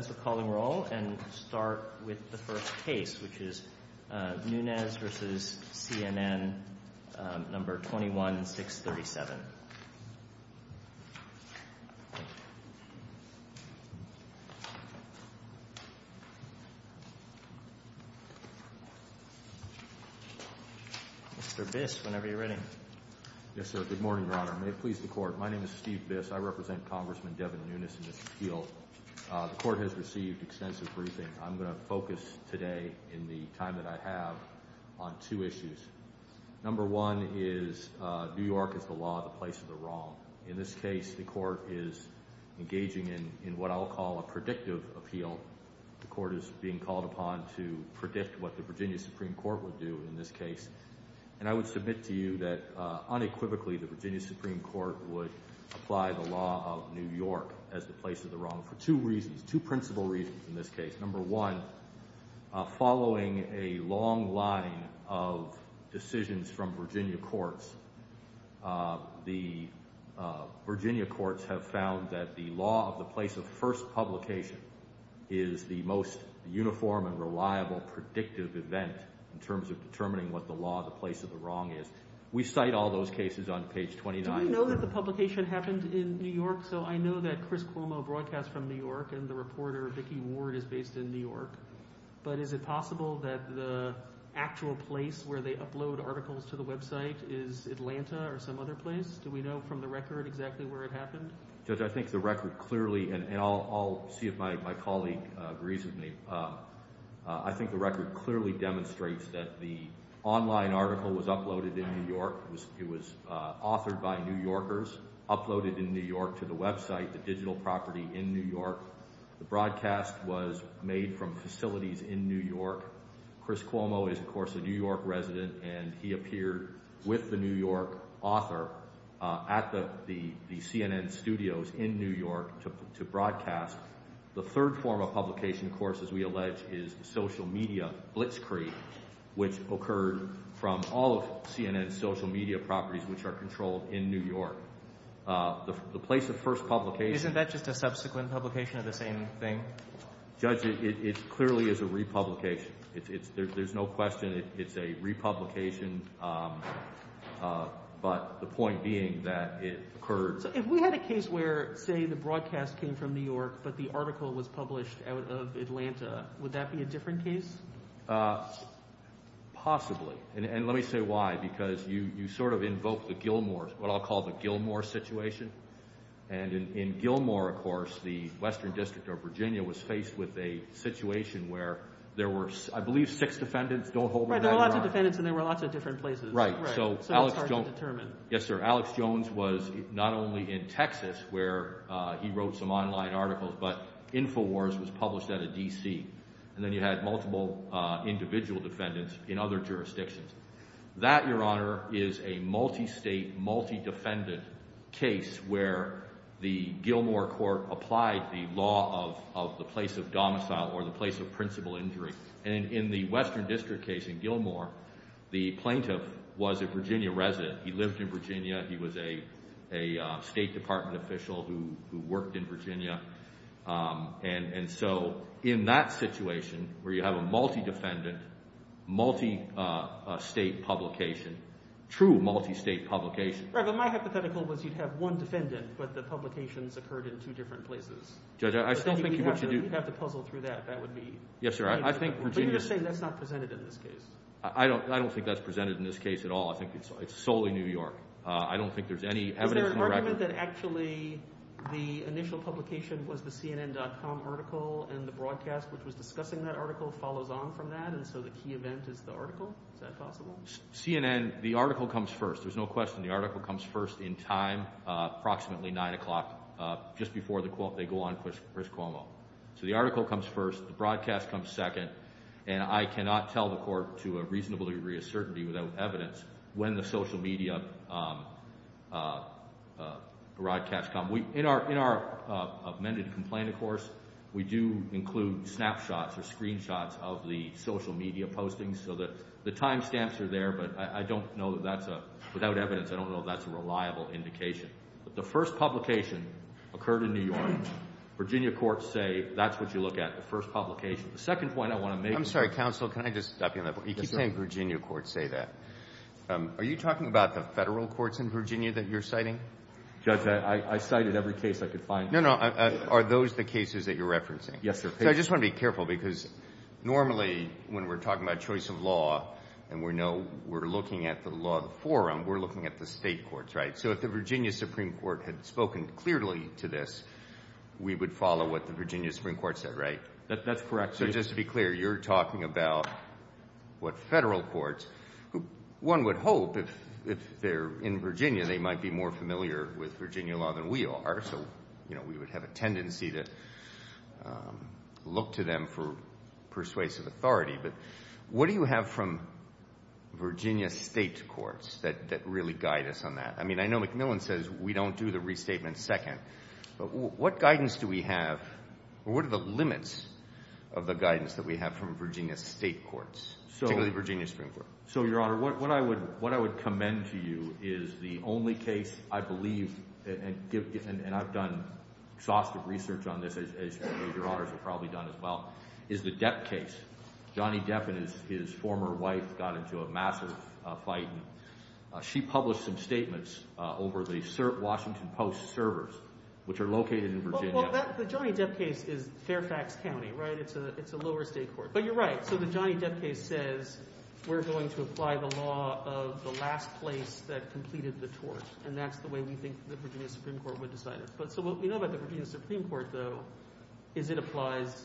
Mr. Biss, whenever you're ready. Yes, sir. Good morning, Your Honor. May it please the Court, my name is Steve Biss. I represent Congressman Devin Nunes and Mr. Steele. The Court has received extensive briefing. I'm going to focus today, in the time that I have, on two issues. Number one is New York is the law of the place of the wrong. In this case, the Court is engaging in what I'll call a predictive appeal. The Court is being called upon to predict what the Virginia Supreme Court would do in this case. And I would submit to you that, unequivocally, the Virginia Supreme Court would apply the law of New York as the place of the wrong for two reasons, two principal reasons in this case. Number one, following a long line of decisions from Virginia courts, the Virginia courts have found that the law of the place of first publication is the most uniform and reliable predictive event in terms of determining what the law of the place of the wrong is. We cite all those cases on page 29. Do we know that the publication happened in New York? So I know that Chris Cuomo broadcasts from New York and the reporter Vicki Ward is based in New York. But is it possible that the actual place where they upload articles to the website is Atlanta or some other place? Do we know from the record exactly where it happened? Judge, I think the record clearly—and I'll see if my colleague agrees with me. I think the record clearly demonstrates that the online article was uploaded in New York. It was authored by New Yorkers, uploaded in New York to the website, the digital property in New York. The broadcast was made from facilities in New York. Chris Cuomo is, of course, a New York resident, and he appeared with the New York author at the CNN studios in New York to broadcast. The third form of publication, of course, as we allege, is social media blitzkrieg, which occurred from all of CNN's social media properties, which are controlled in New York. The place of first publication— Isn't that just a subsequent publication of the same thing? Judge, it clearly is a republication. There's no question it's a republication, but the point being that it occurred— So if we had a case where, say, the broadcast came from New York, but the article was published out of Atlanta, would that be a different case? Possibly, and let me say why, because you sort of invoke the Gilmore—what I'll call the Gilmore situation. And in Gilmore, of course, the Western District of Virginia was faced with a situation where there were, I believe, six defendants. Don't hold me to that. Right, there were lots of defendants, and there were lots of different places. Right. So it's hard to determine. Yes, sir. Alex Jones was not only in Texas, where he wrote some online articles, but InfoWars was published out of D.C. And then you had multiple individual defendants in other jurisdictions. That, Your Honor, is a multi-state, multi-defendant case where the Gilmore court applied the law of the place of domicile or the place of principal injury. And in the Western District case in Gilmore, the plaintiff was a Virginia resident. He lived in Virginia. He was a State Department official who worked in Virginia. And so in that situation, where you have a multi-defendant, multi-state publication, true multi-state publication— Right, but my hypothetical was you'd have one defendant, but the publications occurred in two different places. Judge, I still think what you do— We'd have to puzzle through that. That would be— Yes, sir. I think Virginia— But you're just saying that's not presented in this case. I don't think that's presented in this case at all. I think it's solely New York. I don't think there's any evidence on the record— Did you comment that actually the initial publication was the CNN.com article and the broadcast, which was discussing that article, follows on from that, and so the key event is the article? Is that possible? CNN, the article comes first. There's no question. The article comes first in time, approximately 9 o'clock, just before they go on Chris Cuomo. So the article comes first. The broadcast comes second. And I cannot tell the court to a reasonable degree of certainty without evidence when the social media broadcasts come. In our amended complaint, of course, we do include snapshots or screenshots of the social media postings, so the time stamps are there, but I don't know that that's a—without evidence, I don't know if that's a reliable indication. The first publication occurred in New York. Virginia courts say that's what you look at, the first publication. The second point I want to make— I'm sorry, counsel. Can I just stop you on that point? Yes, sir. You keep saying Virginia courts say that. Are you talking about the Federal courts in Virginia that you're citing? Judge, I cited every case I could find. No, no. Are those the cases that you're referencing? Yes, sir. So I just want to be careful because normally when we're talking about choice of law and we're looking at the law of the forum, we're looking at the State courts, right? So if the Virginia Supreme Court had spoken clearly to this, we would follow what the Virginia Supreme Court said, right? That's correct. So just to be clear, you're talking about what Federal courts—one would hope if they're in Virginia, they might be more familiar with Virginia law than we are. So, you know, we would have a tendency to look to them for persuasive authority. But what do you have from Virginia State courts that really guide us on that? I mean, I know McMillan says we don't do the restatement second. But what guidance do we have or what are the limits of the guidance that we have from Virginia State courts, particularly the Virginia Supreme Court? So, Your Honor, what I would commend to you is the only case I believe—and I've done exhaustive research on this, as your Honors have probably done as well—is the Depp case. Johnny Depp and his former wife got into a massive fight. She published some statements over the Washington Post servers, which are located in Virginia. Well, the Johnny Depp case is Fairfax County, right? It's a lower state court. But you're right. So the Johnny Depp case says we're going to apply the law of the last place that completed the tort. And that's the way we think the Virginia Supreme Court would decide it. So what we know about the Virginia Supreme Court, though, is it applies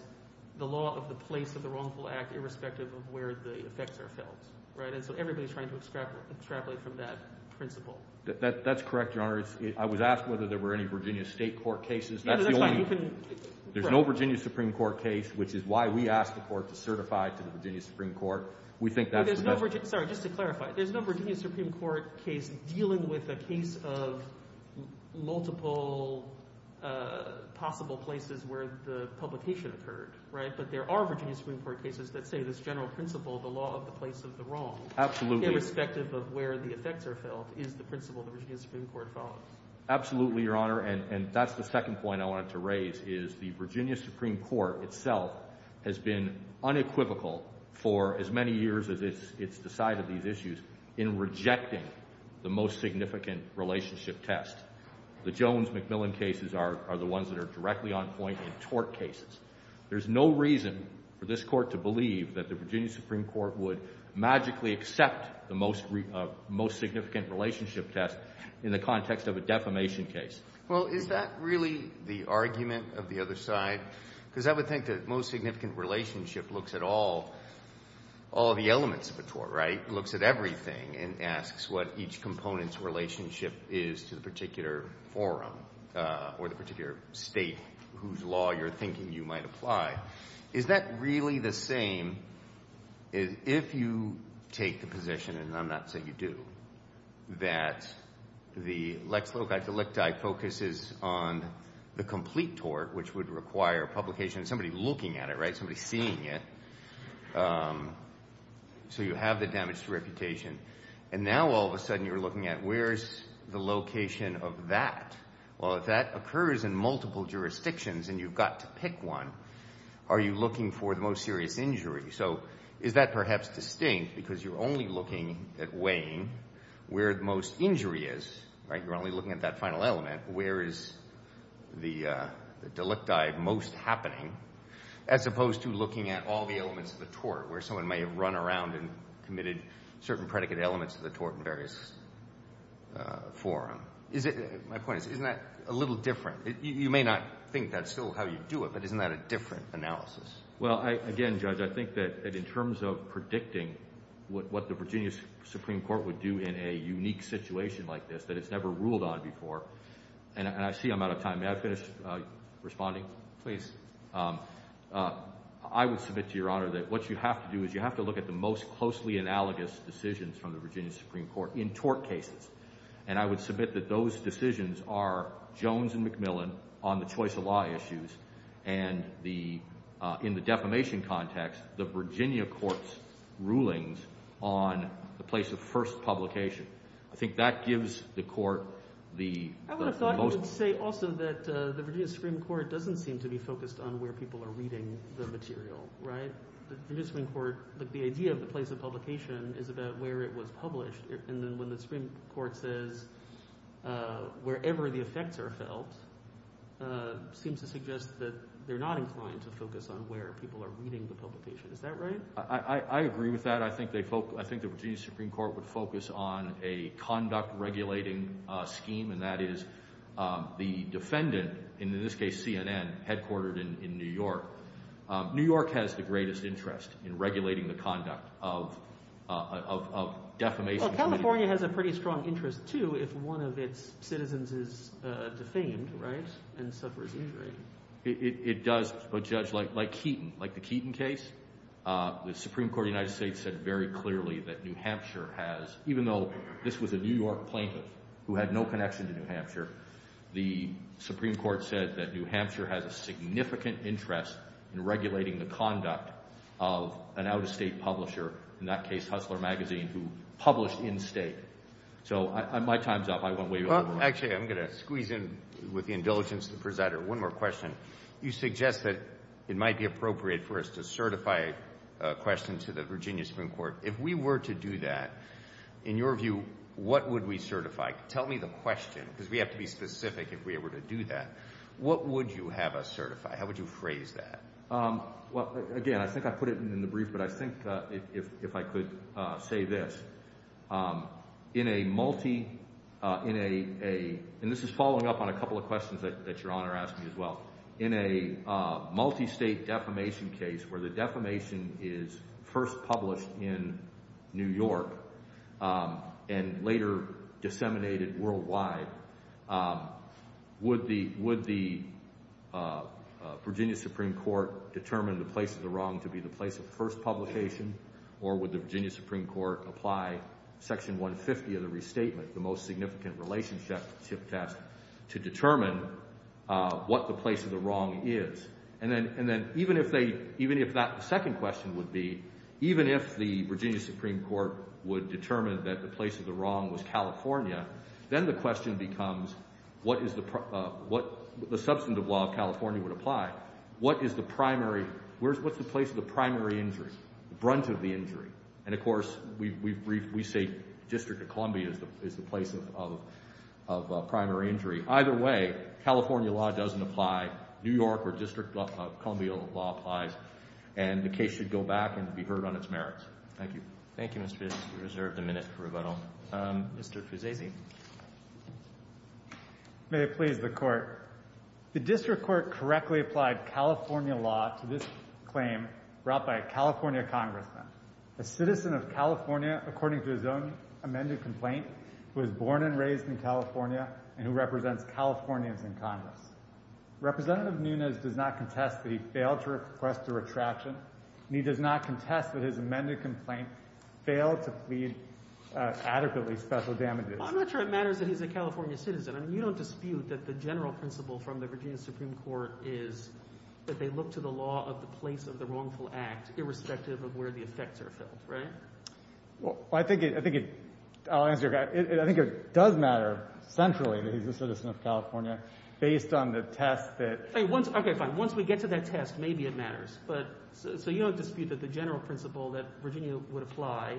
the law of the place of the wrongful act irrespective of where the effects are felt. And so everybody's trying to extrapolate from that principle. That's correct, Your Honor. I was asked whether there were any Virginia State court cases. That's the only— There's no Virginia Supreme Court case, which is why we asked the court to certify to the Virginia Supreme Court. We think that's the best— —possible places where the publication occurred, right? But there are Virginia Supreme Court cases that say this general principle, the law of the place of the wrong— Absolutely. —irrespective of where the effects are felt, is the principle the Virginia Supreme Court follows. Absolutely, Your Honor. And that's the second point I wanted to raise, is the Virginia Supreme Court itself has been unequivocal for as many years as it's decided these issues in rejecting the most significant relationship test. The Jones-McMillan cases are the ones that are directly on point in tort cases. There's no reason for this Court to believe that the Virginia Supreme Court would magically accept the most significant relationship test in the context of a defamation case. Well, is that really the argument of the other side? Because I would think the most significant relationship looks at all the elements of a tort, right? It looks at everything and asks what each component's relationship is to the particular forum or the particular state whose law you're thinking you might apply. Is that really the same if you take the position—and I'm not saying you do—that the lex loci delicti focuses on the complete tort, which would require publication and somebody looking at it, right? Somebody seeing it. So you have the damage to reputation. And now all of a sudden you're looking at where's the location of that. Well, if that occurs in multiple jurisdictions and you've got to pick one, are you looking for the most serious injury? So is that perhaps distinct because you're only looking at weighing where the most injury is, right? You're only looking at that final element. Where is the delicti most happening as opposed to looking at all the elements of the tort where someone may have run around and committed certain predicate elements of the tort in various forum? My point is, isn't that a little different? You may not think that's still how you do it, but isn't that a different analysis? Well, again, Judge, I think that in terms of predicting what the Virginia Supreme Court would do in a unique situation like this that it's never ruled on before—and I see I'm out of time. May I finish responding, please? I would submit to Your Honor that what you have to do is you have to look at the most closely analogous decisions from the Virginia Supreme Court in tort cases. And I would submit that those decisions are Jones and McMillan on the choice of law issues and, in the defamation context, the Virginia court's rulings on the place of first publication. I think that gives the court the most— I would say also that the Virginia Supreme Court doesn't seem to be focused on where people are reading the material, right? The idea of the place of publication is about where it was published. And then when the Supreme Court says wherever the effects are felt, it seems to suggest that they're not inclined to focus on where people are reading the publication. Is that right? I agree with that. I think the Virginia Supreme Court would focus on a conduct-regulating scheme, and that is the defendant, in this case CNN, headquartered in New York. New York has the greatest interest in regulating the conduct of defamation— Well, California has a pretty strong interest, too, if one of its citizens is defamed, right, and suffers injury. It does. But, Judge, like Keaton, like the Keaton case, the Supreme Court of the United States said very clearly that New Hampshire has— in regulating the conduct of an out-of-state publisher, in that case Hustler Magazine, who published in-state. So my time's up. I won't wave it around. Well, actually, I'm going to squeeze in with the indulgence of the presider one more question. You suggest that it might be appropriate for us to certify a question to the Virginia Supreme Court. If we were to do that, in your view, what would we certify? Tell me the question, because we have to be specific if we were to do that. What would you have us certify? How would you phrase that? Well, again, I think I put it in the brief, but I think if I could say this. In a multi—in a—and this is following up on a couple of questions that Your Honor asked me as well. In a multi-state defamation case where the defamation is first published in New York and later disseminated worldwide, would the Virginia Supreme Court determine the place of the wrong to be the place of the first publication, or would the Virginia Supreme Court apply Section 150 of the Restatement, the most significant relationship test, to determine what the place of the wrong is? And then even if that second question would be, even if the Virginia Supreme Court would determine that the place of the wrong was California, then the question becomes what is the—what the substantive law of California would apply. What is the primary—what's the place of the primary injury, the brunt of the injury? And, of course, we've—we say District of Columbia is the place of primary injury. Either way, California law doesn't apply. New York or District of Columbia law applies. And the case should go back and be heard on its merits. Thank you. Thank you, Mr. Fusasi. We reserve the minute for rebuttal. Mr. Fusasi. May it please the Court. The district court correctly applied California law to this claim brought by a California congressman, a citizen of California, according to his own amended complaint, who was born and raised in California and who represents Californians in Congress. Representative Nunes does not contest that he failed to request a retraction, and he does not contest that his amended complaint failed to plead adequately special damages. I'm not sure it matters that he's a California citizen. I mean, you don't dispute that the general principle from the Virginia Supreme Court is that they look to the law of the place of the wrongful act irrespective of where the effects are felt, right? Well, I think it—I'll answer your question. I think it does matter centrally that he's a citizen of California based on the test that— Okay, fine. Once we get to that test, maybe it matters. But—so you don't dispute that the general principle that Virginia would apply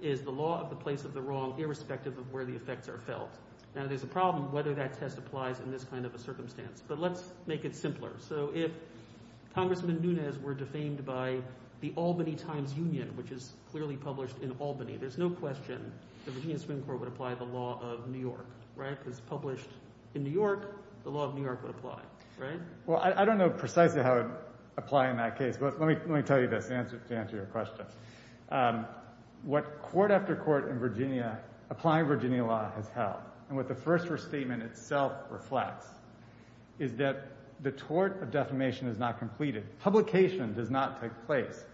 is the law of the place of the wrong irrespective of where the effects are felt. Now, there's a problem whether that test applies in this kind of a circumstance. But let's make it simpler. So if Congressman Nunes were defamed by the Albany Times Union, which is clearly published in Albany, there's no question the Virginia Supreme Court would apply the law of New York, right? Because published in New York, the law of New York would apply, right? Well, I don't know precisely how it would apply in that case, but let me tell you this to answer your question. What court after court in Virginia—applying Virginia law has held, and what the First Restatement itself reflects, is that the tort of defamation is not completed. Publication does not take place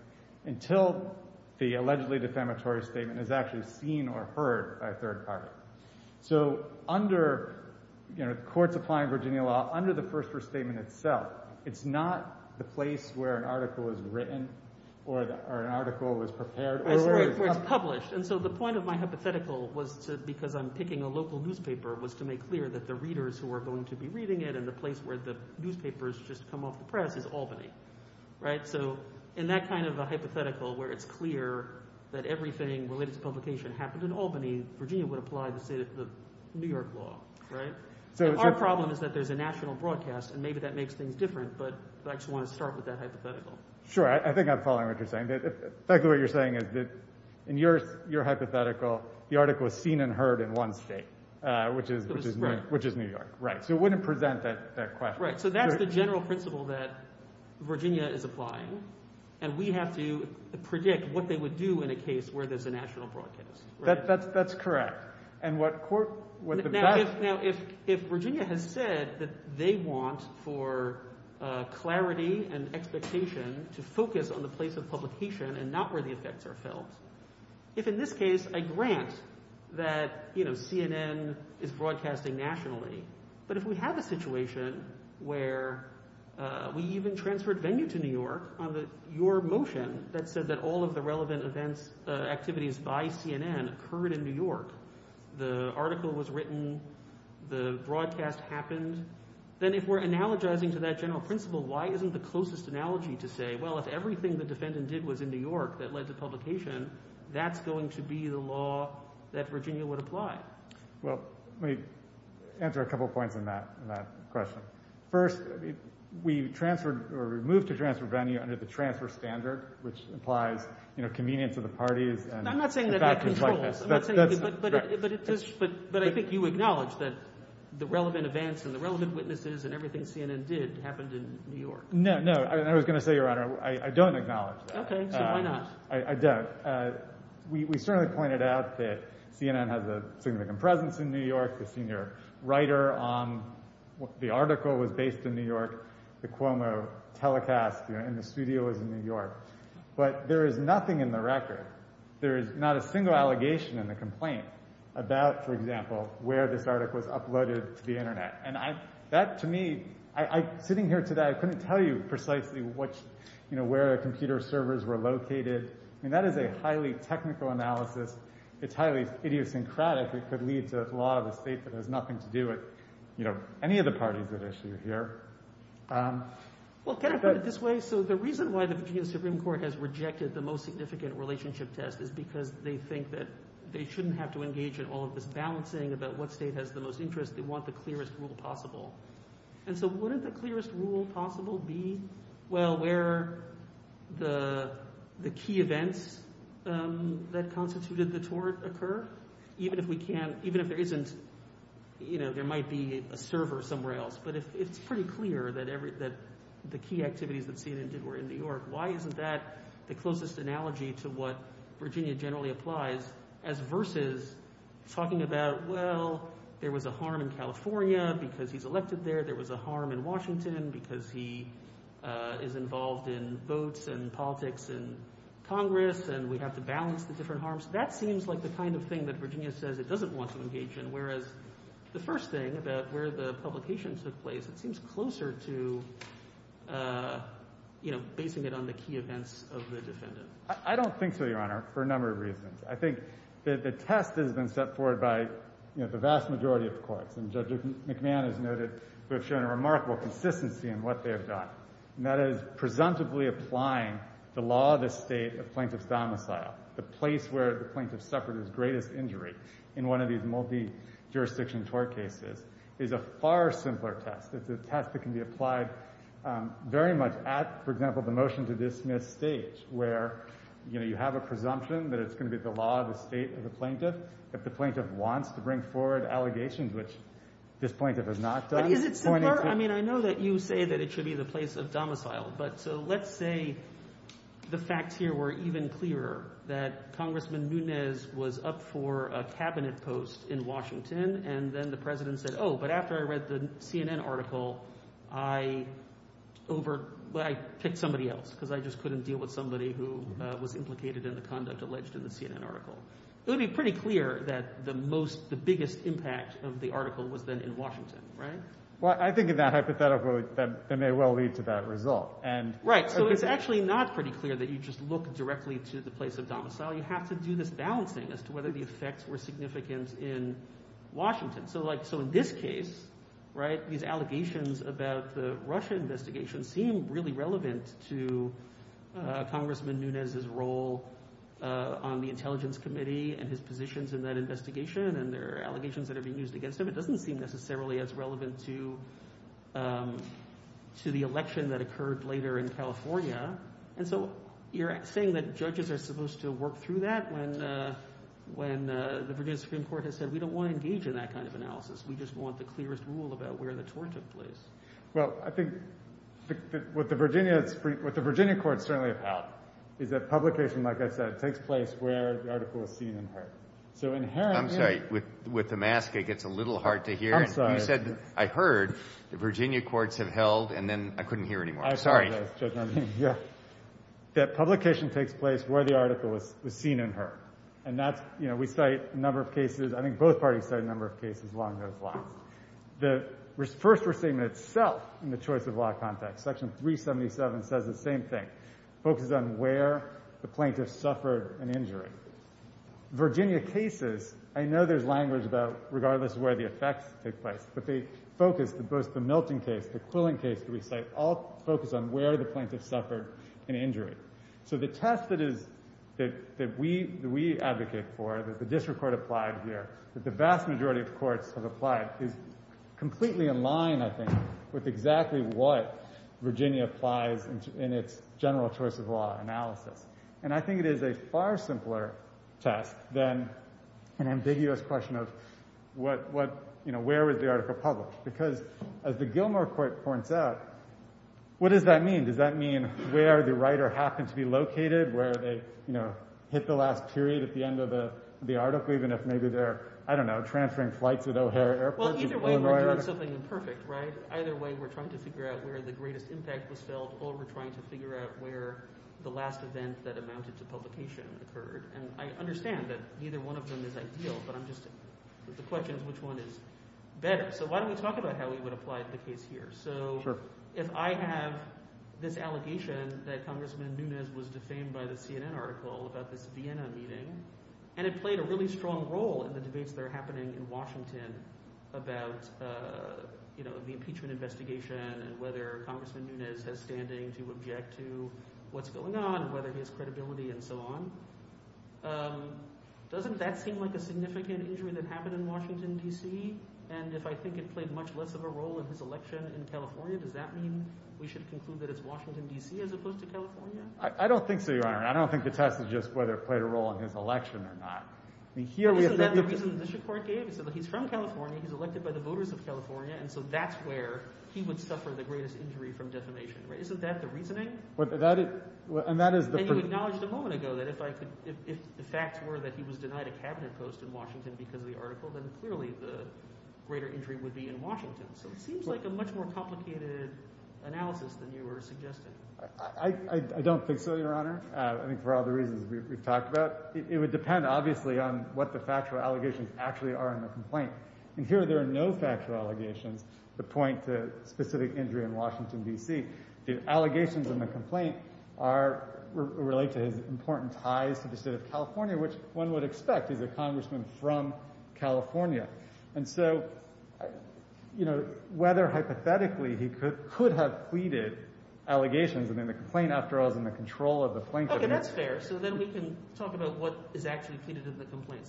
until the allegedly defamatory statement is actually seen or heard by a third party. So under—you know, the courts applying Virginia law, under the First Restatement itself, it's not the place where an article is written or an article is prepared or where it's published. And so the point of my hypothetical was to—because I'm picking a local newspaper— was to make clear that the readers who are going to be reading it and the place where the newspapers just come off the press is Albany, right? So in that kind of a hypothetical where it's clear that everything related to publication happened in Albany, Virginia would apply the New York law, right? So our problem is that there's a national broadcast, and maybe that makes things different, but I just want to start with that hypothetical. Sure. I think I'm following what you're saying. In fact, what you're saying is that in your hypothetical, the article is seen and heard in one state, which is New York. Right. So it wouldn't present that question. Right. So that's the general principle that Virginia is applying, and we have to predict what they would do in a case where there's a national broadcast. That's correct. And what court— Now, if Virginia has said that they want for clarity and expectation to focus on the place of publication and not where the effects are felt, if in this case I grant that, you know, CNN is broadcasting nationally, but if we have a situation where we even transferred venue to New York on your motion that said that all of the relevant events—activities by CNN occurred in New York, the article was written, the broadcast happened, then if we're analogizing to that general principle, why isn't the closest analogy to say, well, if everything the defendant did was in New York that led to publication, that's going to be the law that Virginia would apply? Well, let me answer a couple of points on that question. First, we transferred—or we moved to transfer venue under the transfer standard, which implies, you know, convenience of the parties and— I'm not saying that that controls, but I think you acknowledge that the relevant events and the relevant witnesses and everything CNN did happened in New York. No, no. I was going to say, Your Honor, I don't acknowledge that. Okay. So why not? I don't. We certainly pointed out that CNN has a significant presence in New York. The senior writer on the article was based in New York. The Cuomo telecast in the studio was in New York. But there is nothing in the record, there is not a single allegation in the complaint about, for example, where this article was uploaded to the Internet. And that, to me—sitting here today, I couldn't tell you precisely where the computer servers were located. I mean, that is a highly technical analysis. It's highly idiosyncratic. It could lead to a law of the state that has nothing to do with, you know, any of the parties at issue here. Well, can I put it this way? So the reason why the Virginia Supreme Court has rejected the most significant relationship test is because they think that they shouldn't have to engage in all of this balancing about what state has the most interest. They want the clearest rule possible. And so wouldn't the clearest rule possible be, well, where the key events that constituted the tort occur? Even if we can't—even if there isn't, you know, there might be a server somewhere else. But it's pretty clear that the key activities that CNN did were in New York. Why isn't that the closest analogy to what Virginia generally applies as versus talking about, well, there was a harm in California because he's elected there. There was a harm in Washington because he is involved in votes and politics in Congress, and we have to balance the different harms. That seems like the kind of thing that Virginia says it doesn't want to engage in, whereas the first thing about where the publication took place, it seems closer to, you know, basing it on the key events of the defendant. I don't think so, Your Honor, for a number of reasons. I think that the test has been set forward by, you know, the vast majority of the courts, and Judge McMahon has noted they've shown a remarkable consistency in what they have done, and that is presumptively applying the law of the state of plaintiff's domicile, the place where the plaintiff suffered his greatest injury in one of these multi-jurisdiction court cases, is a far simpler test. It's a test that can be applied very much at, for example, the motion to dismiss stage, where, you know, you have a presumption that it's going to be the law of the state of the plaintiff. If the plaintiff wants to bring forward allegations, which this plaintiff has not done. But is it simpler? I mean, I know that you say that it should be the place of domicile, but so let's say the facts here were even clearer, that Congressman Nunes was up for a cabinet post in Washington, and then the president said, oh, but after I read the CNN article, I over, I picked somebody else because I just couldn't deal with somebody who was implicated in the conduct alleged in the CNN article. It would be pretty clear that the most, the biggest impact of the article was then in Washington, right? Well, I think in that hypothetical, that may well lead to that result. Right, so it's actually not pretty clear that you just look directly to the place of domicile. You have to do this balancing as to whether the effects were significant in Washington. So like, so in this case, right, these allegations about the Russia investigation seem really relevant to Congressman Nunes' role on the Intelligence Committee and his positions in that investigation and their allegations that are being used against him. It doesn't seem necessarily as relevant to the election that occurred later in California. And so you're saying that judges are supposed to work through that when the Virginia Supreme Court has said we don't want to engage in that kind of analysis. We just want the clearest rule about where the tort took place. Well, I think what the Virginia Supreme, what the Virginia court is certainly about is that publication, like I said, takes place where the article is seen and heard. I'm sorry, with the mask, it gets a little hard to hear. You said, I heard the Virginia courts have held, and then I couldn't hear anymore. Sorry. That publication takes place where the article was seen and heard. And that's, you know, we cite a number of cases, I think both parties cite a number of cases along those lines. The first restatement itself in the choice of law context, section 377, says the same thing. It focuses on where the plaintiff suffered an injury. Virginia cases, I know there's language about regardless of where the effects take place, but they focus, both the Milton case, the Quillen case that we cite, all focus on where the plaintiff suffered an injury. So the test that is, that we advocate for, that the district court applied here, that the vast majority of courts have applied, is completely in line, I think, with exactly what Virginia applies in its general choice of law analysis. And I think it is a far simpler test than an ambiguous question of what, you know, where was the article published? Because as the Gilmore court points out, what does that mean? Does that mean where the writer happened to be located, where they, you know, hit the last period at the end of the article, even if maybe they're, I don't know, transferring flights at O'Hare Airport? Well, either way we're doing something imperfect, right? Either way we're trying to figure out where the greatest impact was felt or we're trying to figure out where the last event that amounted to publication occurred. And I understand that neither one of them is ideal, but I'm just, the question is which one is better. So why don't we talk about how we would apply the case here? So if I have this allegation that Congressman Nunes was defamed by the CNN article about this Vienna meeting and it played a really strong role in the debates that are happening in Washington about, you know, the impeachment investigation and whether Congressman Nunes has standing to object to what's going on, whether he has credibility and so on. Doesn't that seem like a significant injury that happened in Washington, D.C.? And if I think it played much less of a role in his election in California, does that mean we should conclude that it's Washington, D.C. as opposed to California? I don't think so, Your Honor. I don't think the test is just whether it played a role in his election or not. Isn't that the reason the district court gave? It said that he's from California. He's elected by the voters of California. And so that's where he would suffer the greatest injury from defamation, right? Isn't that the reasoning? And you acknowledged a moment ago that if the facts were that he was denied a cabinet post in Washington because of the article, then clearly the greater injury would be in Washington. So it seems like a much more complicated analysis than you were suggesting. I don't think so, Your Honor. I think for all the reasons we've talked about, it would depend obviously on what the factual allegations actually are in the complaint. And here there are no factual allegations that point to specific injury in Washington, D.C. The allegations in the complaint are related to his important ties to the state of California, which one would expect. He's a congressman from California. And so, you know, whether hypothetically he could have pleaded allegations in the complaint, after all, is in the control of the plaintiff. Okay, that's fair. So then we can talk about what is actually pleaded in the complaint.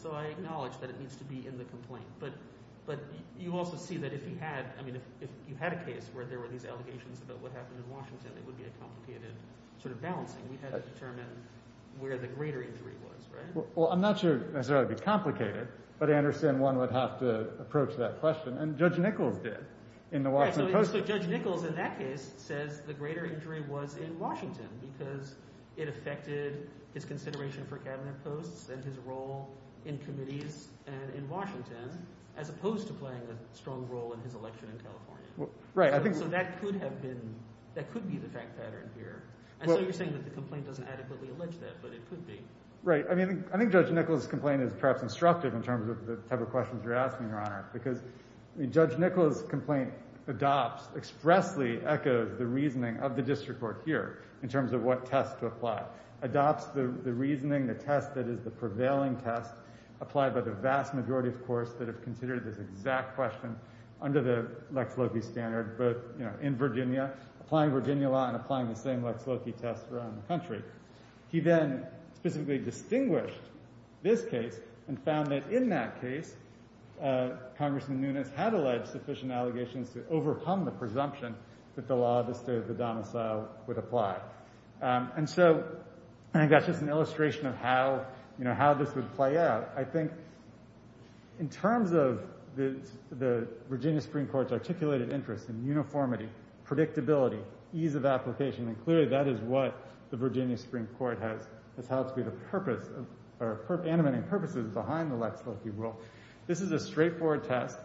But you also see that if he had – I mean if you had a case where there were these allegations about what happened in Washington, it would be a complicated sort of balancing. We had to determine where the greater injury was, right? Well, I'm not sure it would necessarily be complicated, but I understand one would have to approach that question. And Judge Nichols did in the Washington Post. As opposed to playing a strong role in his election in California. Right. So that could have been – that could be the fact pattern here. And so you're saying that the complaint doesn't adequately allege that, but it could be. Right. I mean I think Judge Nichols' complaint is perhaps instructive in terms of the type of questions you're asking, Your Honor, because Judge Nichols' complaint adopts – expressly echoes the reasoning of the district court here in terms of what test to apply. Adopts the reasoning, the test that is the prevailing test applied by the vast majority, of course, that have considered this exact question under the Lex Loki standard. But, you know, in Virginia, applying Virginia law and applying the same Lex Loki test around the country. He then specifically distinguished this case and found that in that case, Congressman Nunes had alleged sufficient allegations to overcome the presumption that the law of the state of the domicile would apply. And so I think that's just an illustration of how, you know, how this would play out. I think in terms of the Virginia Supreme Court's articulated interest in uniformity, predictability, ease of application, and clearly that is what the Virginia Supreme Court has held to be the purpose or animating purposes behind the Lex Loki rule. This is a straightforward test.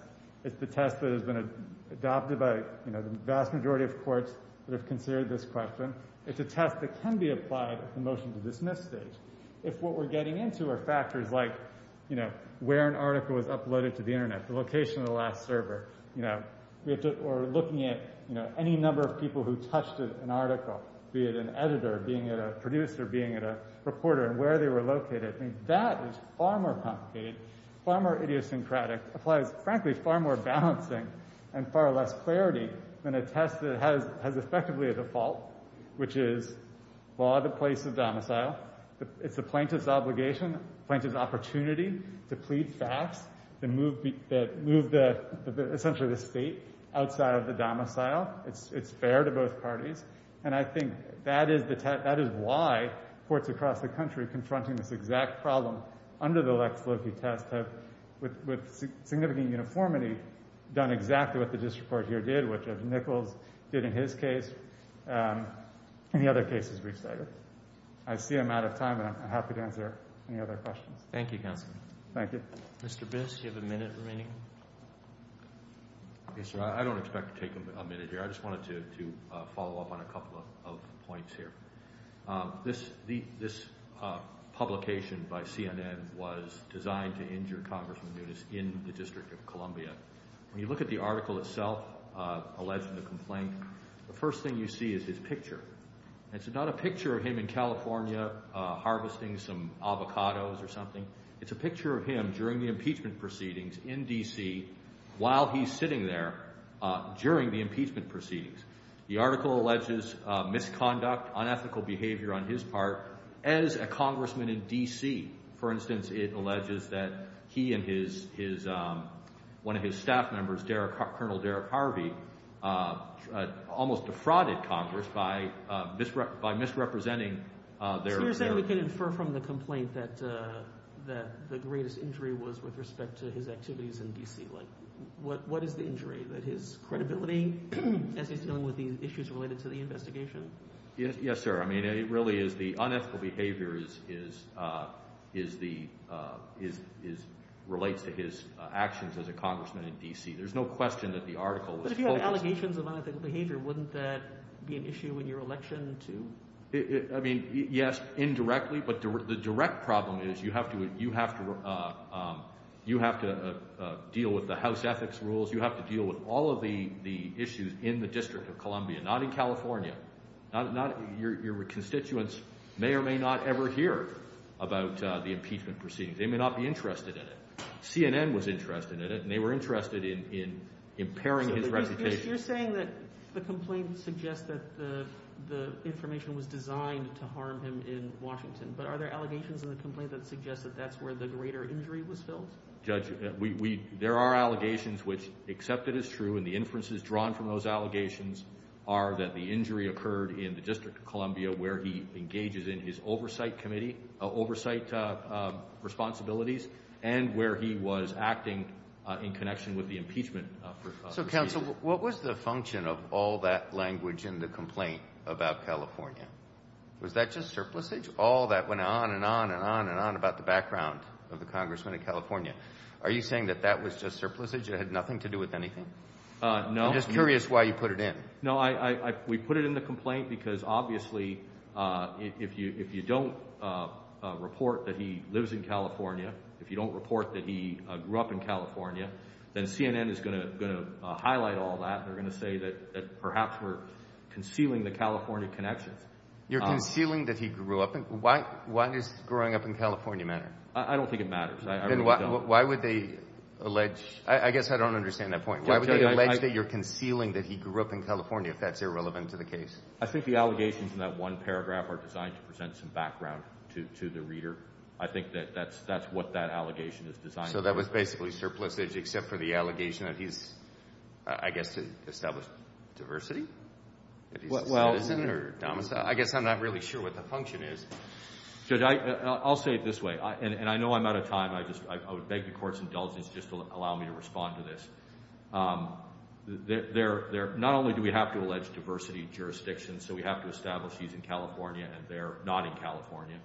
It's the test that has been adopted by, you know, the vast majority of courts that have considered this question. It's a test that can be applied at the motion-to-dismiss stage. If what we're getting into are factors like, you know, where an article was uploaded to the Internet, the location of the last server, you know, or looking at, you know, any number of people who touched an article, be it an editor, being it a producer, being it a reporter, and where they were located. I mean, that is far more complicated, far more idiosyncratic, applies, frankly, far more balancing and far less clarity than a test that has effectively a default, which is, law the place of domicile. It's the plaintiff's obligation, plaintiff's opportunity to plead facts that move essentially the state outside of the domicile. It's fair to both parties. And I think that is why courts across the country confronting this exact problem under the Lex Loki test have, with significant uniformity, done exactly what the district court here did, which Ed Nichols did in his case and the other cases we've cited. I see I'm out of time, and I'm happy to answer any other questions. Thank you, counsel. Thank you. Mr. Biss, do you have a minute remaining? I don't expect to take a minute here. I just wanted to follow up on a couple of points here. This publication by CNN was designed to injure Congressman Nunes in the District of Columbia. When you look at the article itself, alleged complaint, the first thing you see is his picture. It's not a picture of him in California harvesting some avocados or something. It's a picture of him during the impeachment proceedings in D.C. while he's sitting there during the impeachment proceedings. The article alleges misconduct, unethical behavior on his part as a congressman in D.C. For instance, it alleges that he and his – one of his staff members, Colonel Derek Harvey, almost defrauded Congress by misrepresenting their – So you're saying we can infer from the complaint that the greatest injury was with respect to his activities in D.C.? Like, what is the injury? That his credibility as he's dealing with the issues related to the investigation? Yes, sir. I mean, it really is the unethical behavior is the – relates to his actions as a congressman in D.C. There's no question that the article was – But if you have allegations of unethical behavior, wouldn't that be an issue in your election too? I mean, yes, indirectly, but the direct problem is you have to deal with the House ethics rules. You have to deal with all of the issues in the District of Columbia, not in California. Your constituents may or may not ever hear about the impeachment proceedings. They may not be interested in it. CNN was interested in it, and they were interested in impairing his reputation. You're saying that the complaint suggests that the information was designed to harm him in Washington, but are there allegations in the complaint that suggest that that's where the greater injury was filled? Judge, there are allegations which, except it is true and the inferences drawn from those allegations, are that the injury occurred in the District of Columbia where he engages in his oversight committee, oversight responsibilities, and where he was acting in connection with the impeachment proceedings. So, counsel, what was the function of all that language in the complaint about California? Was that just surplusage? All that went on and on and on and on about the background of the congressman in California. Are you saying that that was just surplusage? It had nothing to do with anything? No. I'm just curious why you put it in. No, we put it in the complaint because, obviously, if you don't report that he lives in California, if you don't report that he grew up in California, then CNN is going to highlight all that and they're going to say that perhaps we're concealing the California connections. You're concealing that he grew up in – why does growing up in California matter? I don't think it matters. I really don't. Then why would they allege – I guess I don't understand that point. Why would they allege that you're concealing that he grew up in California if that's irrelevant to the case? I think the allegations in that one paragraph are designed to present some background to the reader. I think that that's what that allegation is designed to do. So that was basically surplusage except for the allegation that he's, I guess, established diversity? Well – I guess I'm not really sure what the function is. Judge, I'll say it this way, and I know I'm out of time. I would beg the Court's indulgence just to allow me to respond to this. Not only do we have to allege diversity jurisdictions, so we have to establish he's in California and they're not in California,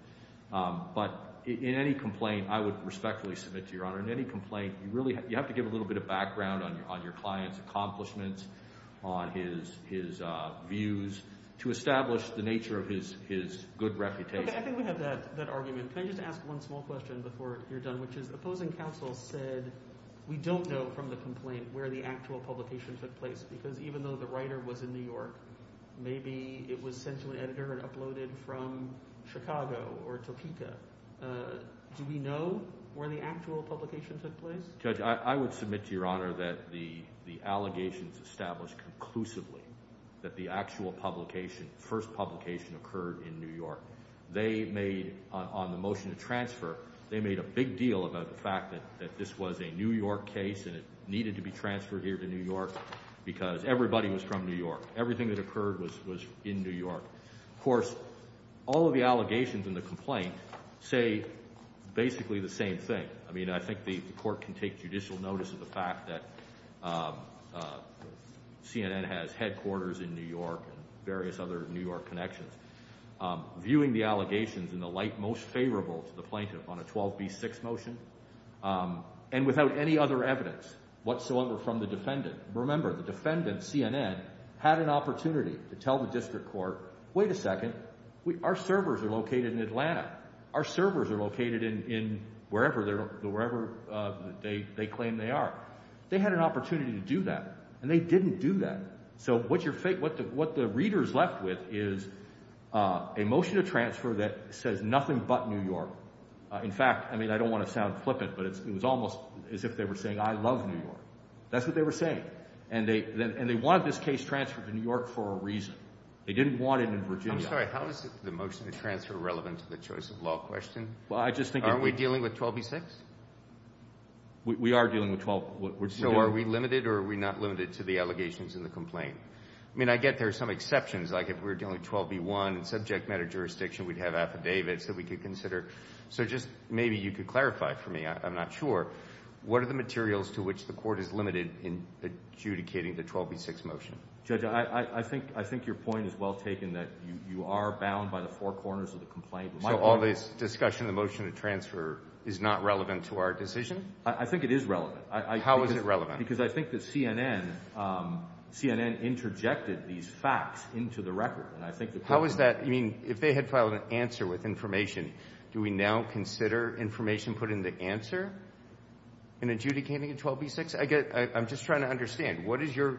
but in any complaint, I would respectfully submit to Your Honor, in any complaint, you have to give a little bit of background on your client's accomplishments, on his views, to establish the nature of his good reputation. Okay, I think we have that argument. Can I just ask one small question before you're done, which is the opposing counsel said we don't know from the complaint where the actual publication took place because even though the writer was in New York, maybe it was sent to an editor and uploaded from Chicago or Topeka. Do we know where the actual publication took place? Judge, I would submit to Your Honor that the allegations established conclusively that the actual publication, first publication, occurred in New York, they made, on the motion to transfer, they made a big deal about the fact that this was a New York case and it needed to be transferred here to New York because everybody was from New York. Everything that occurred was in New York. Of course, all of the allegations in the complaint say basically the same thing. I mean, I think the court can take judicial notice of the fact that CNN has headquarters in New York and various other New York connections. Viewing the allegations in the light most favorable to the plaintiff on a 12B6 motion and without any other evidence whatsoever from the defendant. Remember, the defendant, CNN, had an opportunity to tell the district court, wait a second, our servers are located in Atlanta. Our servers are located in wherever they claim they are. They had an opportunity to do that, and they didn't do that. So what the readers left with is a motion to transfer that says nothing but New York. In fact, I mean, I don't want to sound flippant, but it was almost as if they were saying, I love New York. That's what they were saying, and they wanted this case transferred to New York for a reason. They didn't want it in Virginia. I'm sorry. How is the motion to transfer relevant to the choice of law question? Well, I just think it Aren't we dealing with 12B6? We are dealing with 12. So are we limited or are we not limited to the allegations in the complaint? I mean, I get there are some exceptions, like if we're dealing with 12B1 subject matter jurisdiction, we'd have affidavits that we could consider. So just maybe you could clarify for me. I'm not sure. What are the materials to which the court is limited in adjudicating the 12B6 motion? Judge, I think your point is well taken that you are bound by the four corners of the complaint. So all this discussion, the motion to transfer, is not relevant to our decision? I think it is relevant. How is it relevant? Because I think that CNN interjected these facts into the record. How is that? I mean, if they had filed an answer with information, do we now consider information put in the answer in adjudicating a 12B6? I'm just trying to understand. What is your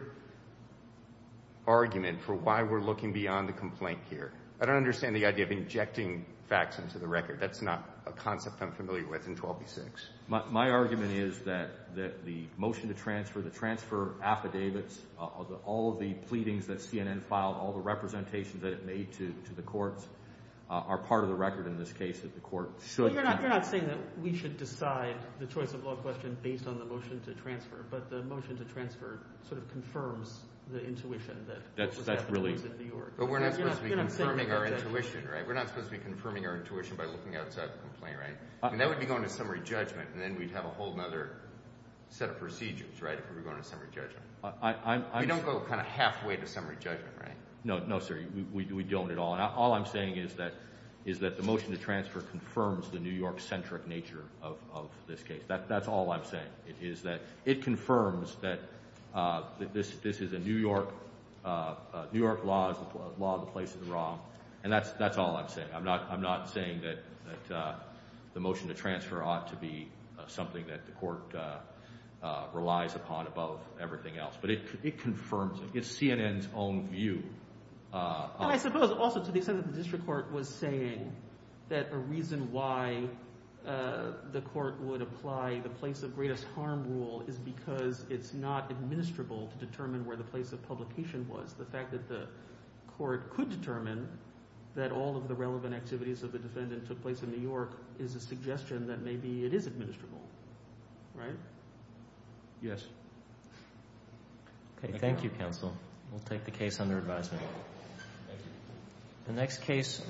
argument for why we're looking beyond the complaint here? I don't understand the idea of injecting facts into the record. That's not a concept I'm familiar with in 12B6. My argument is that the motion to transfer, the transfer affidavits, all of the pleadings that CNN filed, all the representations that it made to the courts are part of the record in this case that the court should have. You're not saying that we should decide the choice of law question based on the motion to transfer, but the motion to transfer sort of confirms the intuition that was at the courts in New York. But we're not supposed to be confirming our intuition, right? We're not supposed to be confirming our intuition by looking outside the complaint, right? That would be going to summary judgment, and then we'd have a whole other set of procedures, right, if we were going to summary judgment. We don't go kind of halfway to summary judgment, right? No, sir. We don't at all. And all I'm saying is that the motion to transfer confirms the New York-centric nature of this case. That's all I'm saying is that it confirms that this is a New York law, the law of the place of the wrong. And that's all I'm saying. I'm not saying that the motion to transfer ought to be something that the court relies upon above everything else, but it confirms it. It's CNN's own view. And I suppose also to the extent that the district court was saying that a reason why the court would apply the place of greatest harm rule is because it's not administrable to determine where the place of publication was. The fact that the court could determine that all of the relevant activities of the defendant took place in New York is a suggestion that maybe it is administrable, right? Yes. Okay. Thank you, counsel. We'll take the case under advisement. Thank you. The next case.